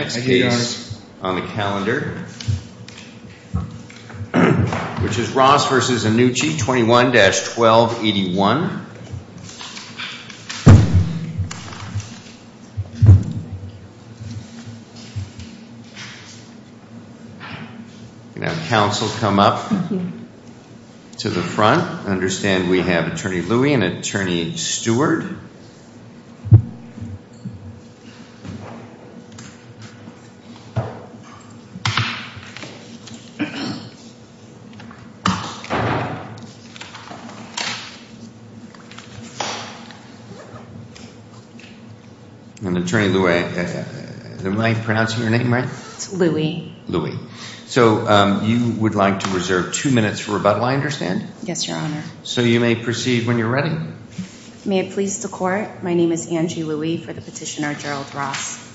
next case on the calendar which is Ross v. Annucci, 21-1281. Counsel come up to the front. I understand we have attorney Louie and attorney Steward. And attorney Louie, am I pronouncing your name right? It's Louie. Louie. So you would like to reserve two minutes for rebuttal, I understand? Yes, your honor. So you may proceed when you're ready. May it please the court, my name is Angie Louie for the petitioner Gerald Ross.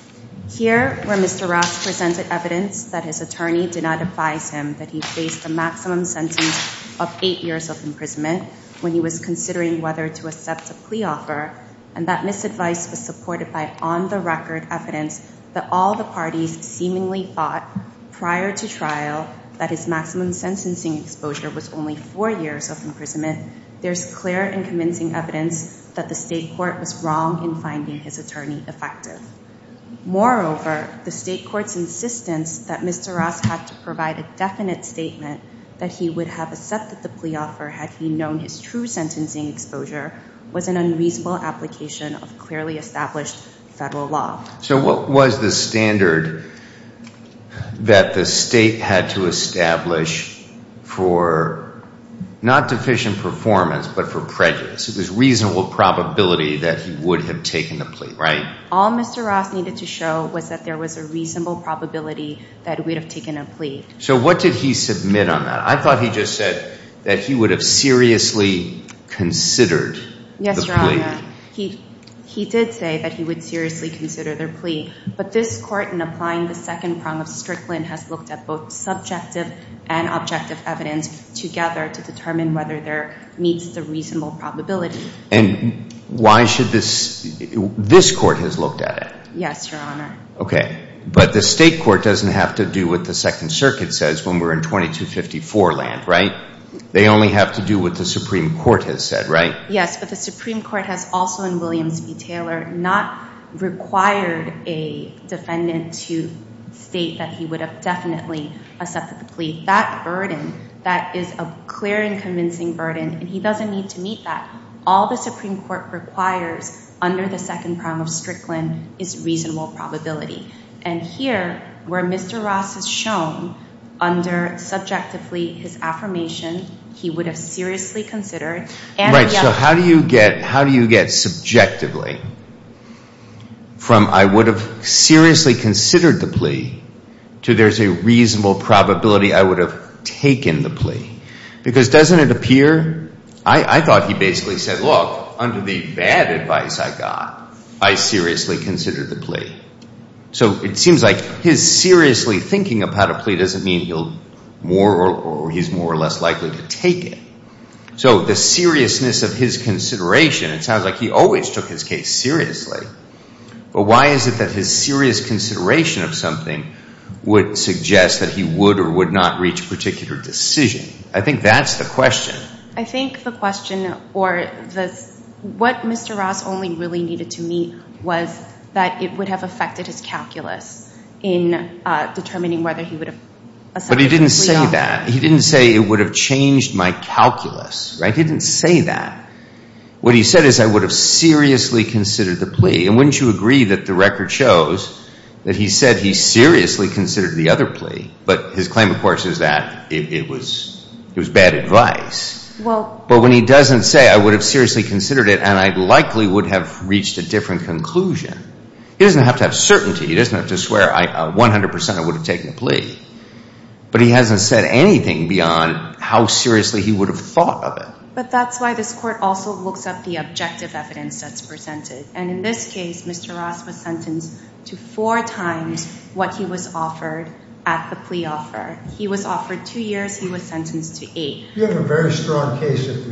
Here where Mr. Ross presented evidence that his attorney did not advise him that he faced a maximum sentence of eight years of imprisonment when he was considering whether to accept a plea offer and that misadvice was supported by on the record evidence that all the parties seemingly thought prior to trial that his maximum sentencing exposure was only four years of imprisonment, there's clear and convincing evidence that the state court was wrong in finding his attorney effective. Moreover, the state court's insistence that Mr. Ross had to provide a definite statement that he would have accepted the plea offer had he known his true sentencing exposure was an unreasonable application of clearly established federal law. So what was the standard that the state had to establish for not deficient performance but for prejudice? It was reasonable probability that he would have taken the plea, right? All Mr. Ross needed to show was that there was a reasonable probability that he would have taken a plea. So what did he submit on that? He did say that he would seriously consider their plea. But this court in applying the second prong of Strickland has looked at both subjective and objective evidence together to determine whether there meets the reasonable probability. And why should this, this court has looked at it? Yes, Your Honor. Okay, but the state court doesn't have to do what the Second Circuit says when we're in 2254 land, right? They only have to do what the Supreme Court has said, right? Yes, but the Supreme Court has also in Williams v. Taylor not required a defendant to state that he would have definitely accepted the plea. That burden, that is a clear and convincing burden, and he doesn't need to meet that. All the Supreme Court requires under the second prong of Strickland is reasonable probability. And here, where Mr. Ross has shown under subjectively his affirmation, he would have seriously considered and he would have- Right, so how do you get subjectively from I would have seriously considered the plea to there's a reasonable probability I would have taken the plea? Because doesn't it appear, I thought he basically said, look, under the bad advice I got, I seriously considered the plea. So it seems like his seriously thinking about a plea doesn't mean he'll more or he's more or less likely to take it. So the seriousness of his consideration, it sounds like he always took his case seriously. But why is it that his serious consideration of something would suggest that he would or would not reach a particular decision? I think that's the question. I think the question or what Mr. Ross only really needed to meet was that it would have affected his calculus in determining whether he would have- But he didn't say that. He didn't say it would have changed my calculus. He didn't say that. What he said is I would have seriously considered the plea. And wouldn't you agree that the record shows that he said he seriously considered the other plea? But his claim, of course, is that it was bad advice. But when he doesn't say I would have seriously considered it and I likely would have reached a different conclusion, he doesn't have to have certainty. He doesn't have to swear 100% I would have taken the plea. But he hasn't said anything beyond how seriously he would have thought of it. But that's why this court also looks up the objective evidence that's presented. And in this case, Mr. Ross was sentenced to four times what he was offered at the plea offer. He was offered two years. He was sentenced to eight. We have a very strong case if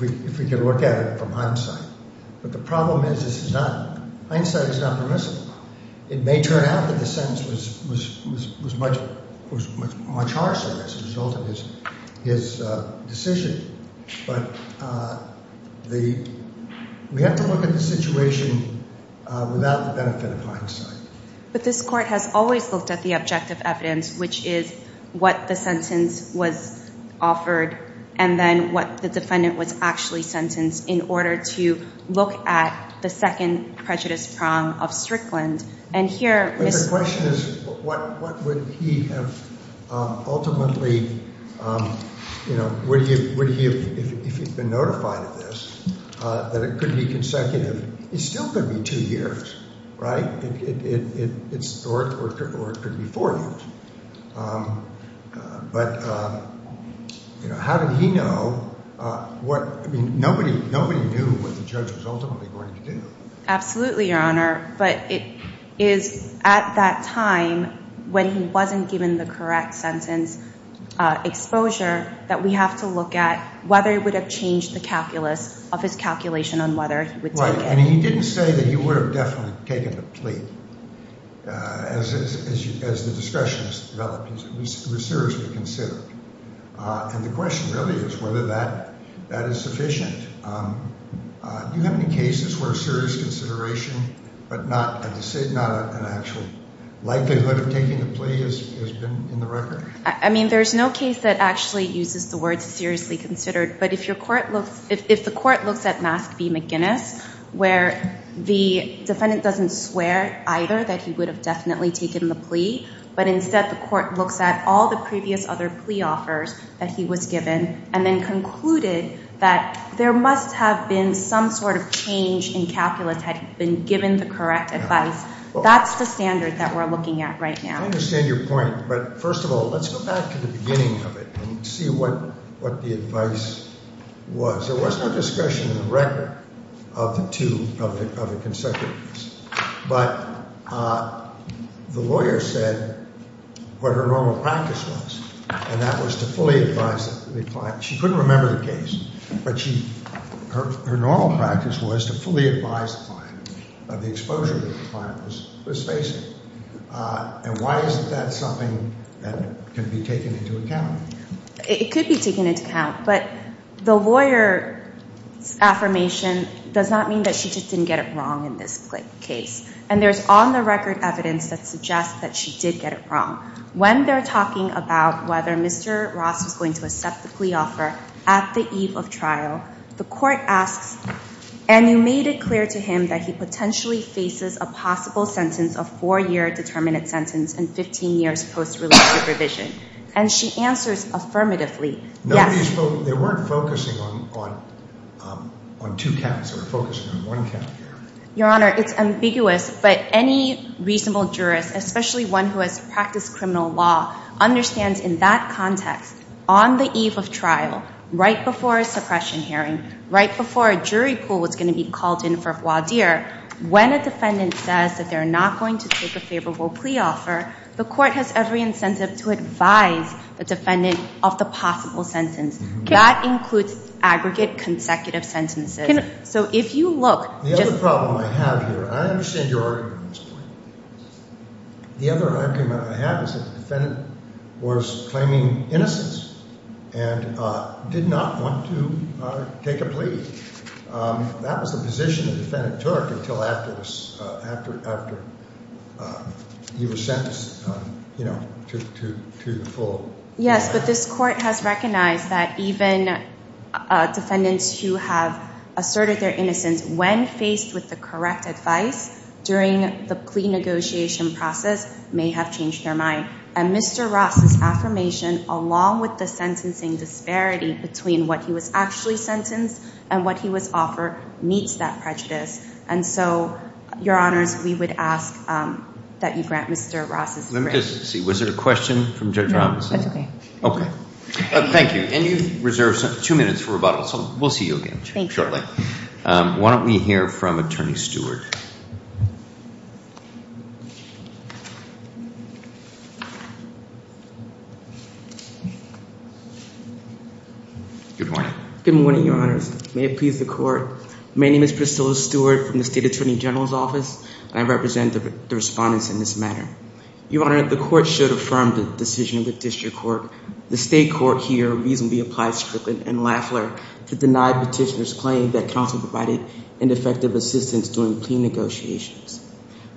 we can look at it from hindsight. But the problem is this is not- Hindsight is not permissible. It may turn out that the sentence was much harsher as a result of his decision. But we have to look at the situation without the benefit of hindsight. But this court has always looked at the objective evidence, which is what the sentence was offered and then what the defendant was actually sentenced in order to look at the second prejudice prong of Strickland. And here- But the question is what would he have ultimately, you know, would he have, if he'd been notified of this, that it could be consecutive. It still could be two years, right? It's, or it could be four years. But, you know, how did he know what, I mean, nobody knew what the judge was ultimately going to do. Absolutely, Your Honor. But it is at that time when he wasn't given the correct sentence exposure that we have to look at whether it would have changed the calculus of his calculation on whether he would take it. Right. And he didn't say that he would have definitely taken the plea as the discussion has developed, it was seriously considered. And the question really is whether that is sufficient. Do you have any cases where serious consideration but not an actual likelihood of taking the plea has been in the record? I mean, there's no case that actually uses the word seriously considered. But if your court looks, if the court looks at Mask v. McGinnis where the defendant doesn't swear either that he would have definitely taken the plea, but instead the court looks at all the previous other plea offers that he was given and then concluded that there must have been some sort of change in calculus had he been given the correct advice. That's the standard that we're looking at right now. I understand your point, but first of all, let's go back to the beginning of it and see what the advice was. There was no discussion in the record of the two of the consecutives. But the lawyer said what her normal practice was, and that was to fully advise the client. She couldn't remember the case, but her normal practice was to fully advise the client of the exposure that the client was facing. And why isn't that something that can be taken into account? It could be taken into account, but the lawyer's affirmation does not mean that she just didn't get it wrong in this case. And there's on-the-record evidence that suggests that she did get it wrong. When they're talking about whether Mr. Ross was going to accept the plea offer at the eve of trial, the court asks, and you made it clear to him that he potentially faces a possible sentence of four-year determinate sentence and 15 years post-relative revision. And she answers affirmatively, yes. Nobody spoke, they weren't focusing on two counts, they were focusing on one count. Your Honor, it's ambiguous, but any reasonable jurist, especially one who has practiced criminal law, understands in that context, on the eve of trial, right before a suppression hearing, right before a jury pool was going to be called in for voir dire, when a defendant says that they're not going to take a favorable plea offer, the court has every incentive to advise the defendant of the possible sentence. That includes aggregate consecutive sentences. So if you look. The other problem I have here, I understand your argument at this point. The other argument I have is that the defendant was claiming innocence and did not want to take a plea. That was the position the defendant took until after he was sentenced, you know, to the full. Yes, but this court has recognized that even defendants who have asserted their innocence when faced with the correct advice during the plea negotiation process may have changed their mind. And Mr. Ross' affirmation, along with the sentencing disparity between what he was actually sentenced and what he was offered, meets that prejudice. And so, your honors, we would ask that you grant Mr. Ross' right. Let me just see. Was there a question from Judge Robinson? No, that's okay. Okay. Thank you. And you've reserved two minutes for rebuttal. So we'll see you again shortly. Why don't we hear from Attorney Stewart. Good morning. Good morning, your honors. May it please the court. My name is Priscilla Stewart from the State Attorney General's Office. I represent the respondents in this matter. Your honor, the court should affirm the decision of the district court. The state court here reasonably applied Strickland and Lafler to deny Petitioner's claim that counsel provided ineffective assistance during plea negotiations.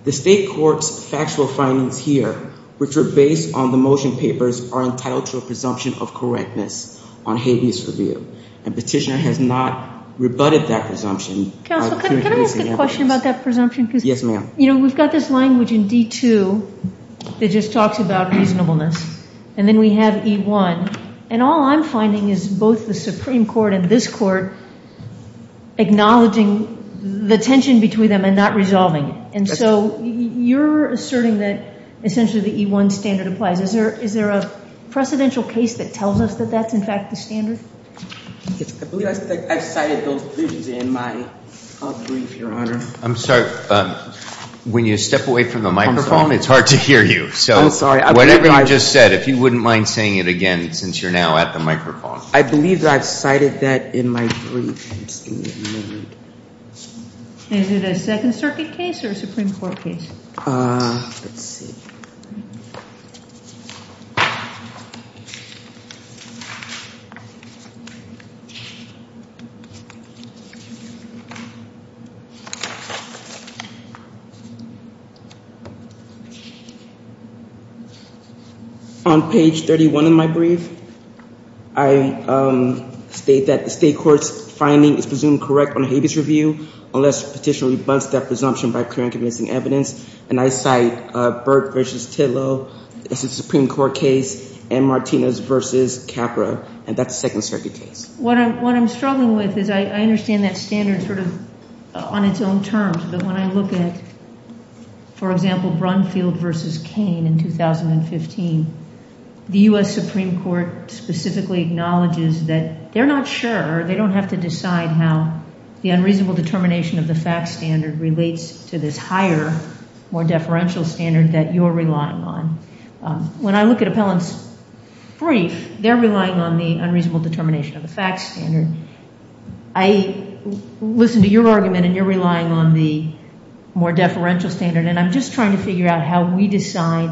The state court's factual findings here, which were based on the motion papers, are entitled to a presumption of correctness on habeas review. And Petitioner has not rebutted that presumption. Counsel, can I ask a question about that presumption? Yes, ma'am. You know, we've got this language in D2 that just talks about reasonableness. And then we have E1. And all I'm finding is both the Supreme Court and this court acknowledging the tension between them and not resolving it. And so, you're asserting that essentially the E1 standard applies. Is there a precedential case that tells us that that's, in fact, the standard? I believe I've cited those provisions in my brief, your honor. I'm sorry, when you step away from the microphone, it's hard to hear you. So, whatever you just said, if you wouldn't mind saying it again, since you're now at the microphone. I believe that I've cited that in my brief. Is it a Second Circuit case or a Supreme Court case? Let's see. On page 31 in my brief, I state that the state court's finding is presumed correct on a habeas review unless petitioner rebuts that presumption by clear and convincing evidence. And I cite Burt v. Titlow as a Supreme Court case and Martinez v. Capra. And that's a Second Circuit case. What I'm struggling with is I understand that standard sort of on its own terms. But when I look at, for example, Brunfield v. Kane in 2015, the U.S. Supreme Court specifically acknowledges that they're not sure, they don't have to decide how the unreasonable determination of the fact standard relates to this higher more deferential standard that you're relying on. When I look at Appellant's brief, they're relying on the unreasonable determination of the fact standard. I listen to your argument and you're relying on the more deferential standard. And I'm just trying to figure out how we decide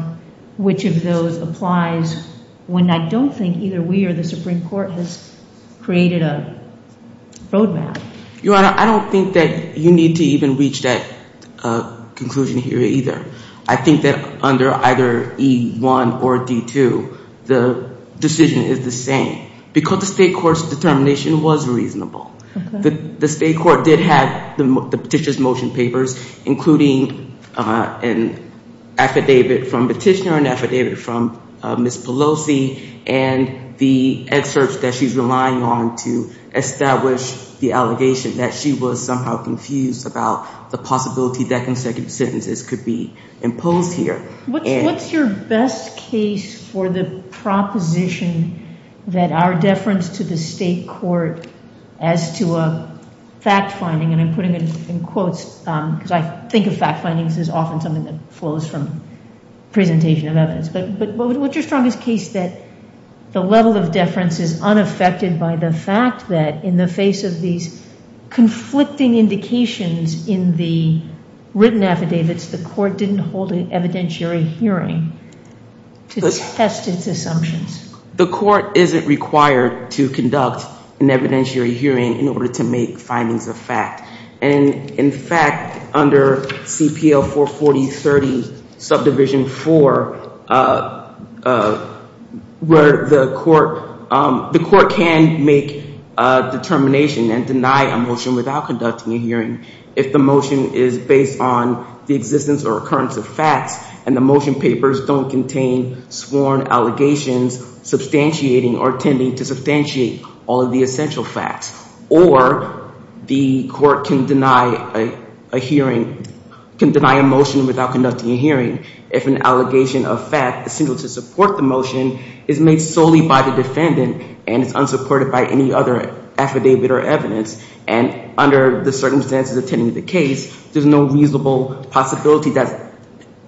which of those applies when I don't think either we or the Supreme Court has created a roadmap. Your Honor, I don't think that you need to even reach that conclusion here either. I think that under either E1 or D2, the decision is the same. Because the state court's determination was reasonable. The state court did have the petitioner's motion papers, including an affidavit from petitioner and affidavit from Ms. Pelosi and the excerpts that she's relying on to establish the allegation that she was somehow confused about the possibility that consecutive sentences could be imposed here. What's your best case for the proposition that our deference to the state court as to a fact finding, and I'm putting it in quotes because I think the state of fact findings is often something that flows from presentation of evidence. But what's your strongest case that the level of deference is unaffected by the fact that in the face of these conflicting indications in the written affidavits, the court didn't hold an evidentiary hearing to test its assumptions? The court isn't required to conduct an evidentiary hearing in order to make findings of fact. And in fact, under CPL 44030 subdivision 4, where the court can make a determination and deny a motion without conducting a hearing if the motion is based on the existence or occurrence of facts and the motion papers don't contain sworn allegations substantiating or tending to substantiate all of the essential facts. Or the court can deny a hearing, can deny a motion without conducting a hearing if an allegation of fact is single to support the motion is made solely by the defendant and is unsupported by any other affidavit or evidence. And under the circumstances attending the case, there's no reasonable possibility that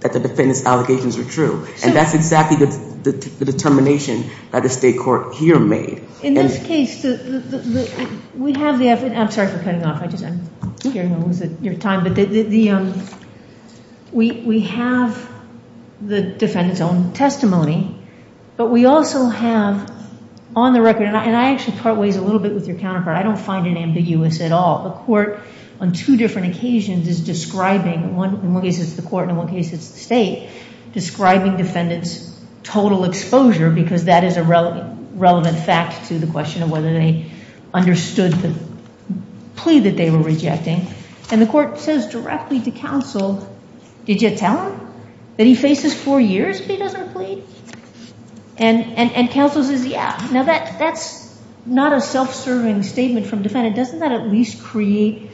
the defendant's allegations are true. And that's exactly the determination that the state court here made. In this case, we have the, I'm sorry for cutting off, I'm just, I don't want to lose your time, but we have the defendant's own testimony, but we also have on the record, and I actually part ways a little bit with your counterpart, I don't find it ambiguous at all. The court on two different occasions is describing, in one case it's the court and in one case it's the state, describing defendant's total exposure because that is a relevant fact to the question of whether they understood the plea that they were rejecting. And the court says directly to counsel, did you tell him that he faces four years if he doesn't plead? And counsel says, yeah, now that's not a self-serving statement from defendant. And doesn't that at least create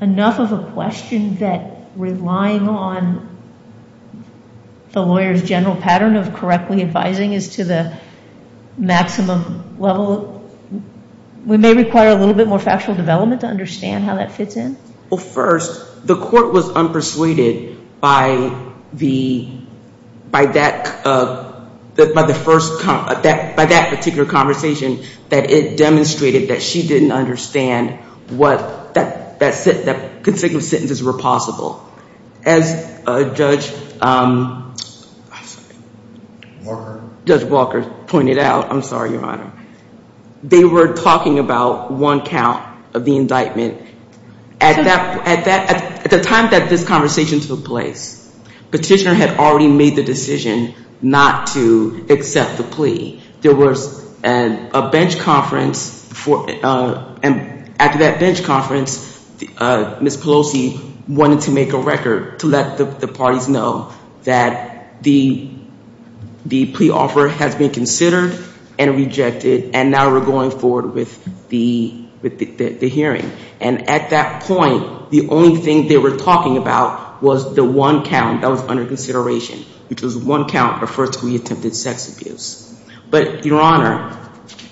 enough of a question that relying on the lawyer's general pattern of correctly advising is to the maximum level? We may require a little bit more factual development to understand how that fits in. Well, first, the court was unpersuaded by the, by that, by the first, by that particular conversation that it demonstrated that she didn't understand what that, that consecutive sentences were possible. As Judge Walker pointed out, I'm sorry, Your Honor. They were talking about one count of the indictment. At that, at that, at the time that this conversation took place, Petitioner had already made the decision not to accept the plea. There was a bench conference for, and at that bench conference, Ms. Pelosi wanted to make a record to let the parties know that the, the plea offer has been considered and rejected, and now we're going forward with the, with the, the hearing. And at that point, the only thing they were talking about was the one count that was under consideration, which was one count of first degree attempted sex abuse. But, Your Honor,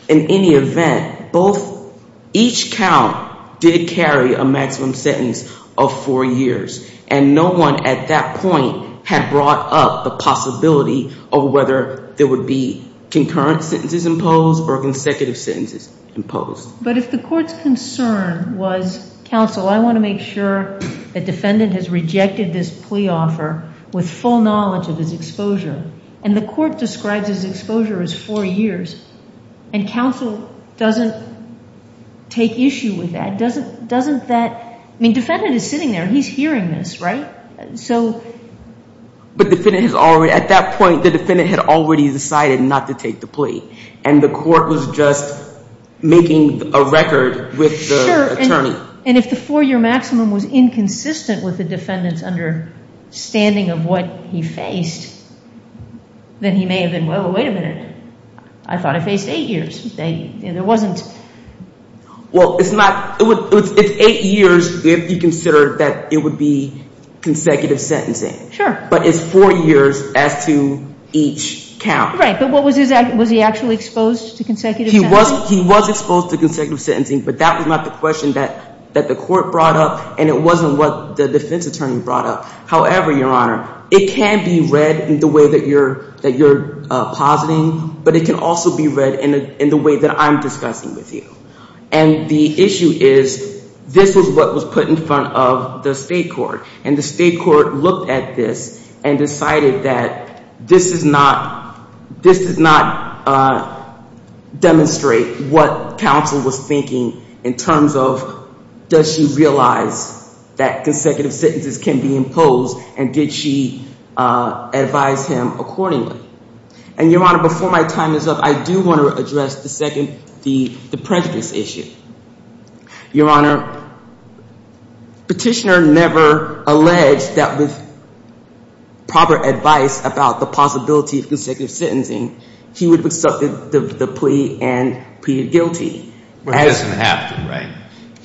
in any event, both, each count did carry a maximum sentence of four years. And no one at that point had brought up the possibility of whether there would be concurrent sentences imposed or consecutive sentences imposed. But if the court's concern was, counsel, I want to make sure that defendant has rejected this plea offer with full knowledge of his exposure. And the court describes his exposure as four years. And counsel doesn't take issue with that. Doesn't, doesn't that, I mean, defendant is sitting there. He's hearing this, right? So. But the defendant has already, at that point, the defendant had already decided not to take the plea. And the court was just making a record with the attorney. And if the four year maximum was inconsistent with the defendant's understanding of what he faced, then he may have been, well, wait a minute, I thought I faced eight years. They, there wasn't. Well, it's not, it's eight years if you consider that it would be consecutive sentencing. Sure. But it's four years as to each count. Right, but what was his, was he actually exposed to consecutive sentencing? He was exposed to consecutive sentencing, but that was not the question that the court brought up. And it wasn't what the defense attorney brought up. However, Your Honor, it can be read in the way that you're positing. But it can also be read in the way that I'm discussing with you. And the issue is, this is what was put in front of the state court. And the state court looked at this and decided that this is not, this does not demonstrate what counsel was thinking in terms of, does she realize that consecutive sentences can be imposed, and did she advise him accordingly? And Your Honor, before my time is up, I do want to address the second, the prejudice issue. Your Honor, Petitioner never alleged that with proper advice about the possibility of consecutive sentencing, he would have accepted the plea and pleaded guilty. Well, he doesn't have to, right?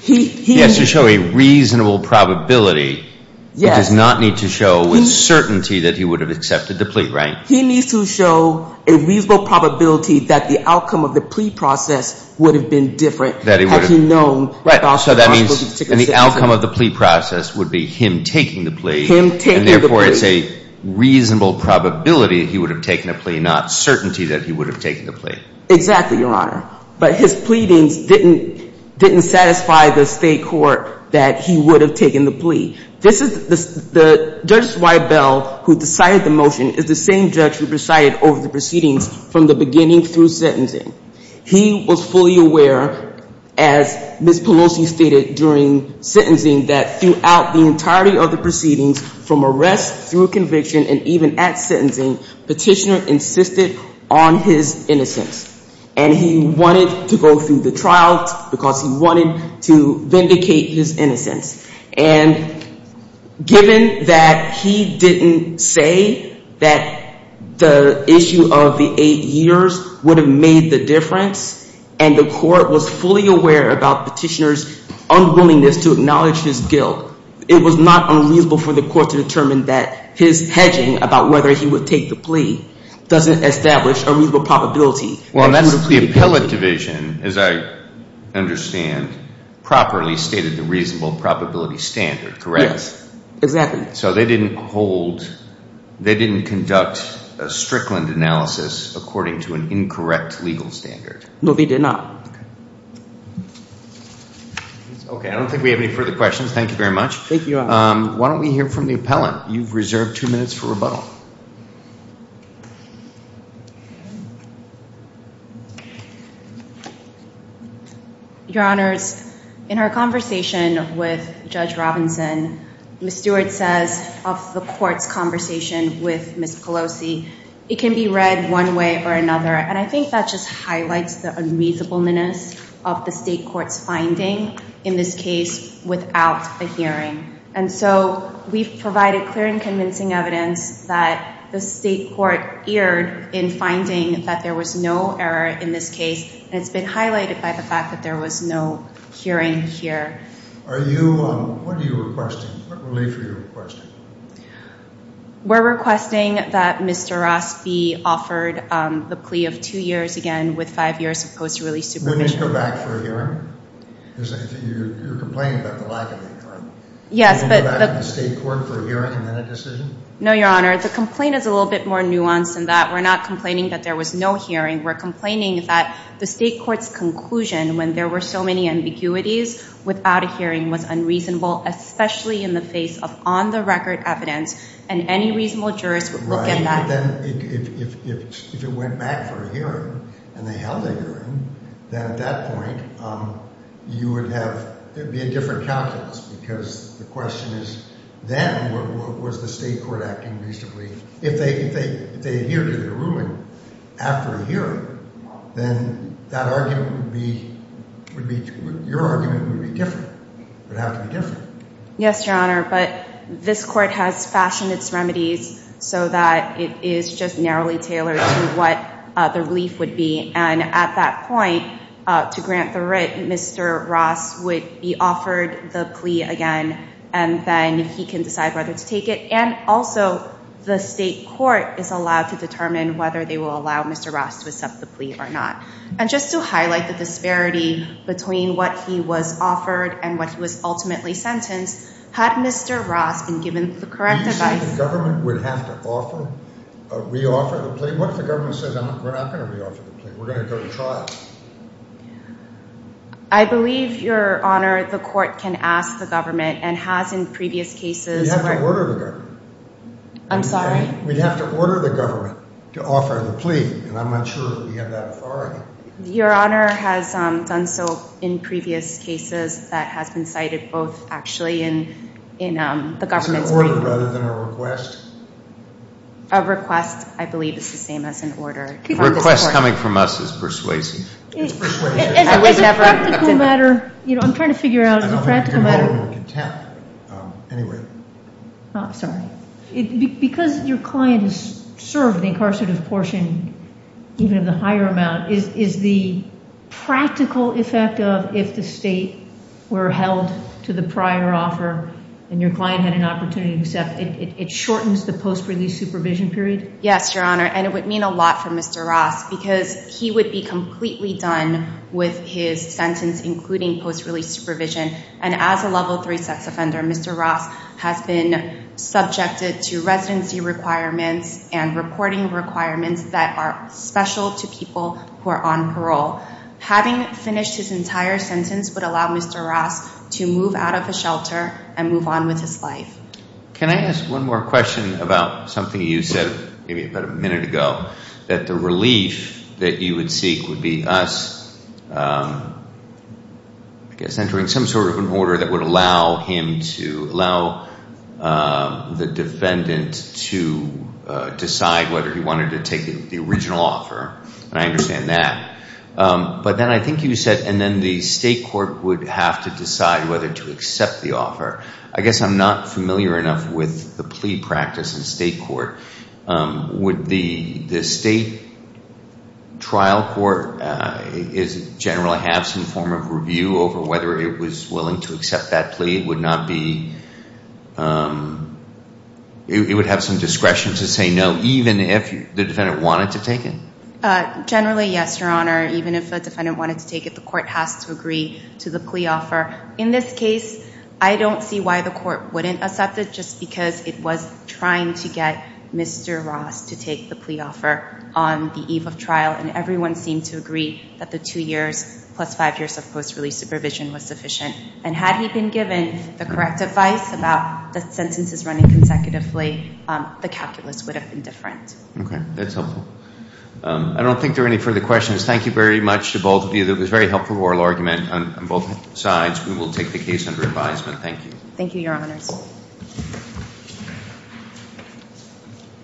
He. He has to show a reasonable probability. Yes. He does not need to show with certainty that he would have accepted the plea, right? He needs to show a reasonable probability that the outcome of the plea process would have been different had he known about the possibility of consecutive sentencing. And the outcome of the plea process would be him taking the plea. Him taking the plea. And therefore, it's a reasonable probability that he would have taken the plea, not certainty that he would have taken the plea. Exactly, Your Honor. But his pleadings didn't satisfy the state court that he would have taken the plea. This is the, Judge Zweibel, who decided the motion, is the same judge who decided over the proceedings from the beginning through sentencing. He was fully aware, as Ms. Pelosi stated during sentencing, that throughout the entirety of the proceedings, from arrest through conviction and even at sentencing, Petitioner insisted on his innocence. And he wanted to go through the trial because he wanted to vindicate his innocence. And given that he didn't say that the issue of the eight years would have made the difference and the court was fully aware about Petitioner's unwillingness to acknowledge his guilt, it was not unreasonable for the court to determine that his hedging about whether he would take the plea doesn't establish a reasonable probability. Well, that's the appellate division, as I understand, properly stated the reasonable probability standard, correct? Yes, exactly. So they didn't hold, they didn't conduct a Strickland analysis according to an incorrect legal standard? No, they did not. Okay. Okay, I don't think we have any further questions. Thank you very much. Thank you, Your Honor. Why don't we hear from the appellant? You've reserved two minutes for rebuttal. Your Honors, in our conversation with Judge Robinson, Ms. Stewart says of the court's conversation with Ms. Pelosi, it can be read one way or another. And I think that just highlights the unreasonableness of the state court's finding in this case without a hearing. And so we've provided clear and convincing evidence that the state court erred in finding that there was no error in this case, and it's been highlighted by the fact that there was no hearing here. Are you, what are you requesting? What relief are you requesting? We're requesting that Mr. Ross be offered the plea of two years again with five years of post-release supervision. Wouldn't he go back for a hearing? You're complaining about the lack of a hearing, right? Yes. Wouldn't he go back to the state court for a hearing and then a decision? No, Your Honor. The complaint is a little bit more nuanced than that. We're not complaining that there was no hearing. We're complaining that the state court's conclusion when there were so many ambiguities without a hearing was unreasonable, especially in the face of on-the-record evidence, and any reasonable jurist would look at that. Right, but then if it went back for a hearing, and they held a hearing, then at that point, you would have, it would be a different calculus, because the question is, then was the state court acting reasonably? If they adhered to their ruling after a hearing, then that argument would be, would be, your argument would be different, would have to be different. Yes, Your Honor, but this court has fashioned its remedies so that it is just narrowly tailored to what the relief would be, and at that point, to grant the writ, Mr. Ross would be offered the plea again, and then he can decide whether to take it, and also, the state court is allowed to determine whether they will allow Mr. Ross to accept the plea or not. And just to highlight the disparity between what he was offered and what he was ultimately sentenced, had Mr. Ross been given the correct advice... Do you think the government would have to offer, re-offer the plea? What if the government says, I'm not going to re-offer the plea, we're going to go to trial? I believe, Your Honor, the court can ask the government, and has in previous cases... We'd have to order the government. I'm sorry? We'd have to order the government to offer the plea, and I'm not sure we have that authority. Your Honor has done so in previous cases that has been cited both actually in the government's... Is it an order rather than a request? A request, I believe, is the same as an order. A request coming from us is persuasive. As a practical matter, I'm trying to figure out, as a practical matter... Because your client has served the incarcerative portion, even the higher amount, is the practical effect of, if the state were held to the prior offer, and your client had an opportunity to accept, it shortens the post-release supervision period? Yes, Your Honor, and it would mean a lot for Mr. Ross, because he would be completely done with his sentence, including post-release supervision. And as a level 3 sex offender, Mr. Ross has been subjected to residency requirements and reporting requirements that are special to people who are on parole. Having finished his entire sentence would allow Mr. Ross to move out of the shelter and move on with his life. Can I ask one more question about something you said, maybe about a minute ago, that the relief that you would seek would be us, I guess, entering some sort of an order that would allow him to... allow the defendant to decide whether he wanted to take the original offer. And I understand that. But then I think you said, and then the state court would have to decide whether to accept the offer. I guess I'm not familiar enough with the plea practice in state court. Would the state trial court generally have some form of review over whether it was willing to accept that plea? It would not be... It would have some discretion to say no, even if the defendant wanted to take it? Generally, yes, Your Honor. Even if a defendant wanted to take it, the court has to agree to the plea offer. In this case, I don't see why the court wouldn't accept it just because it was trying to get Mr. Ross to take the plea offer on the eve of trial, and everyone seemed to agree that the two years plus five years of post-release supervision was sufficient. And had he been given the correct advice about the sentences running consecutively, the calculus would have been different. Okay, that's helpful. I don't think there are any further questions. Thank you very much to both of you. It was a very helpful oral argument on both sides. We will take the case under advisement. Thank you. Thank you, Your Honors.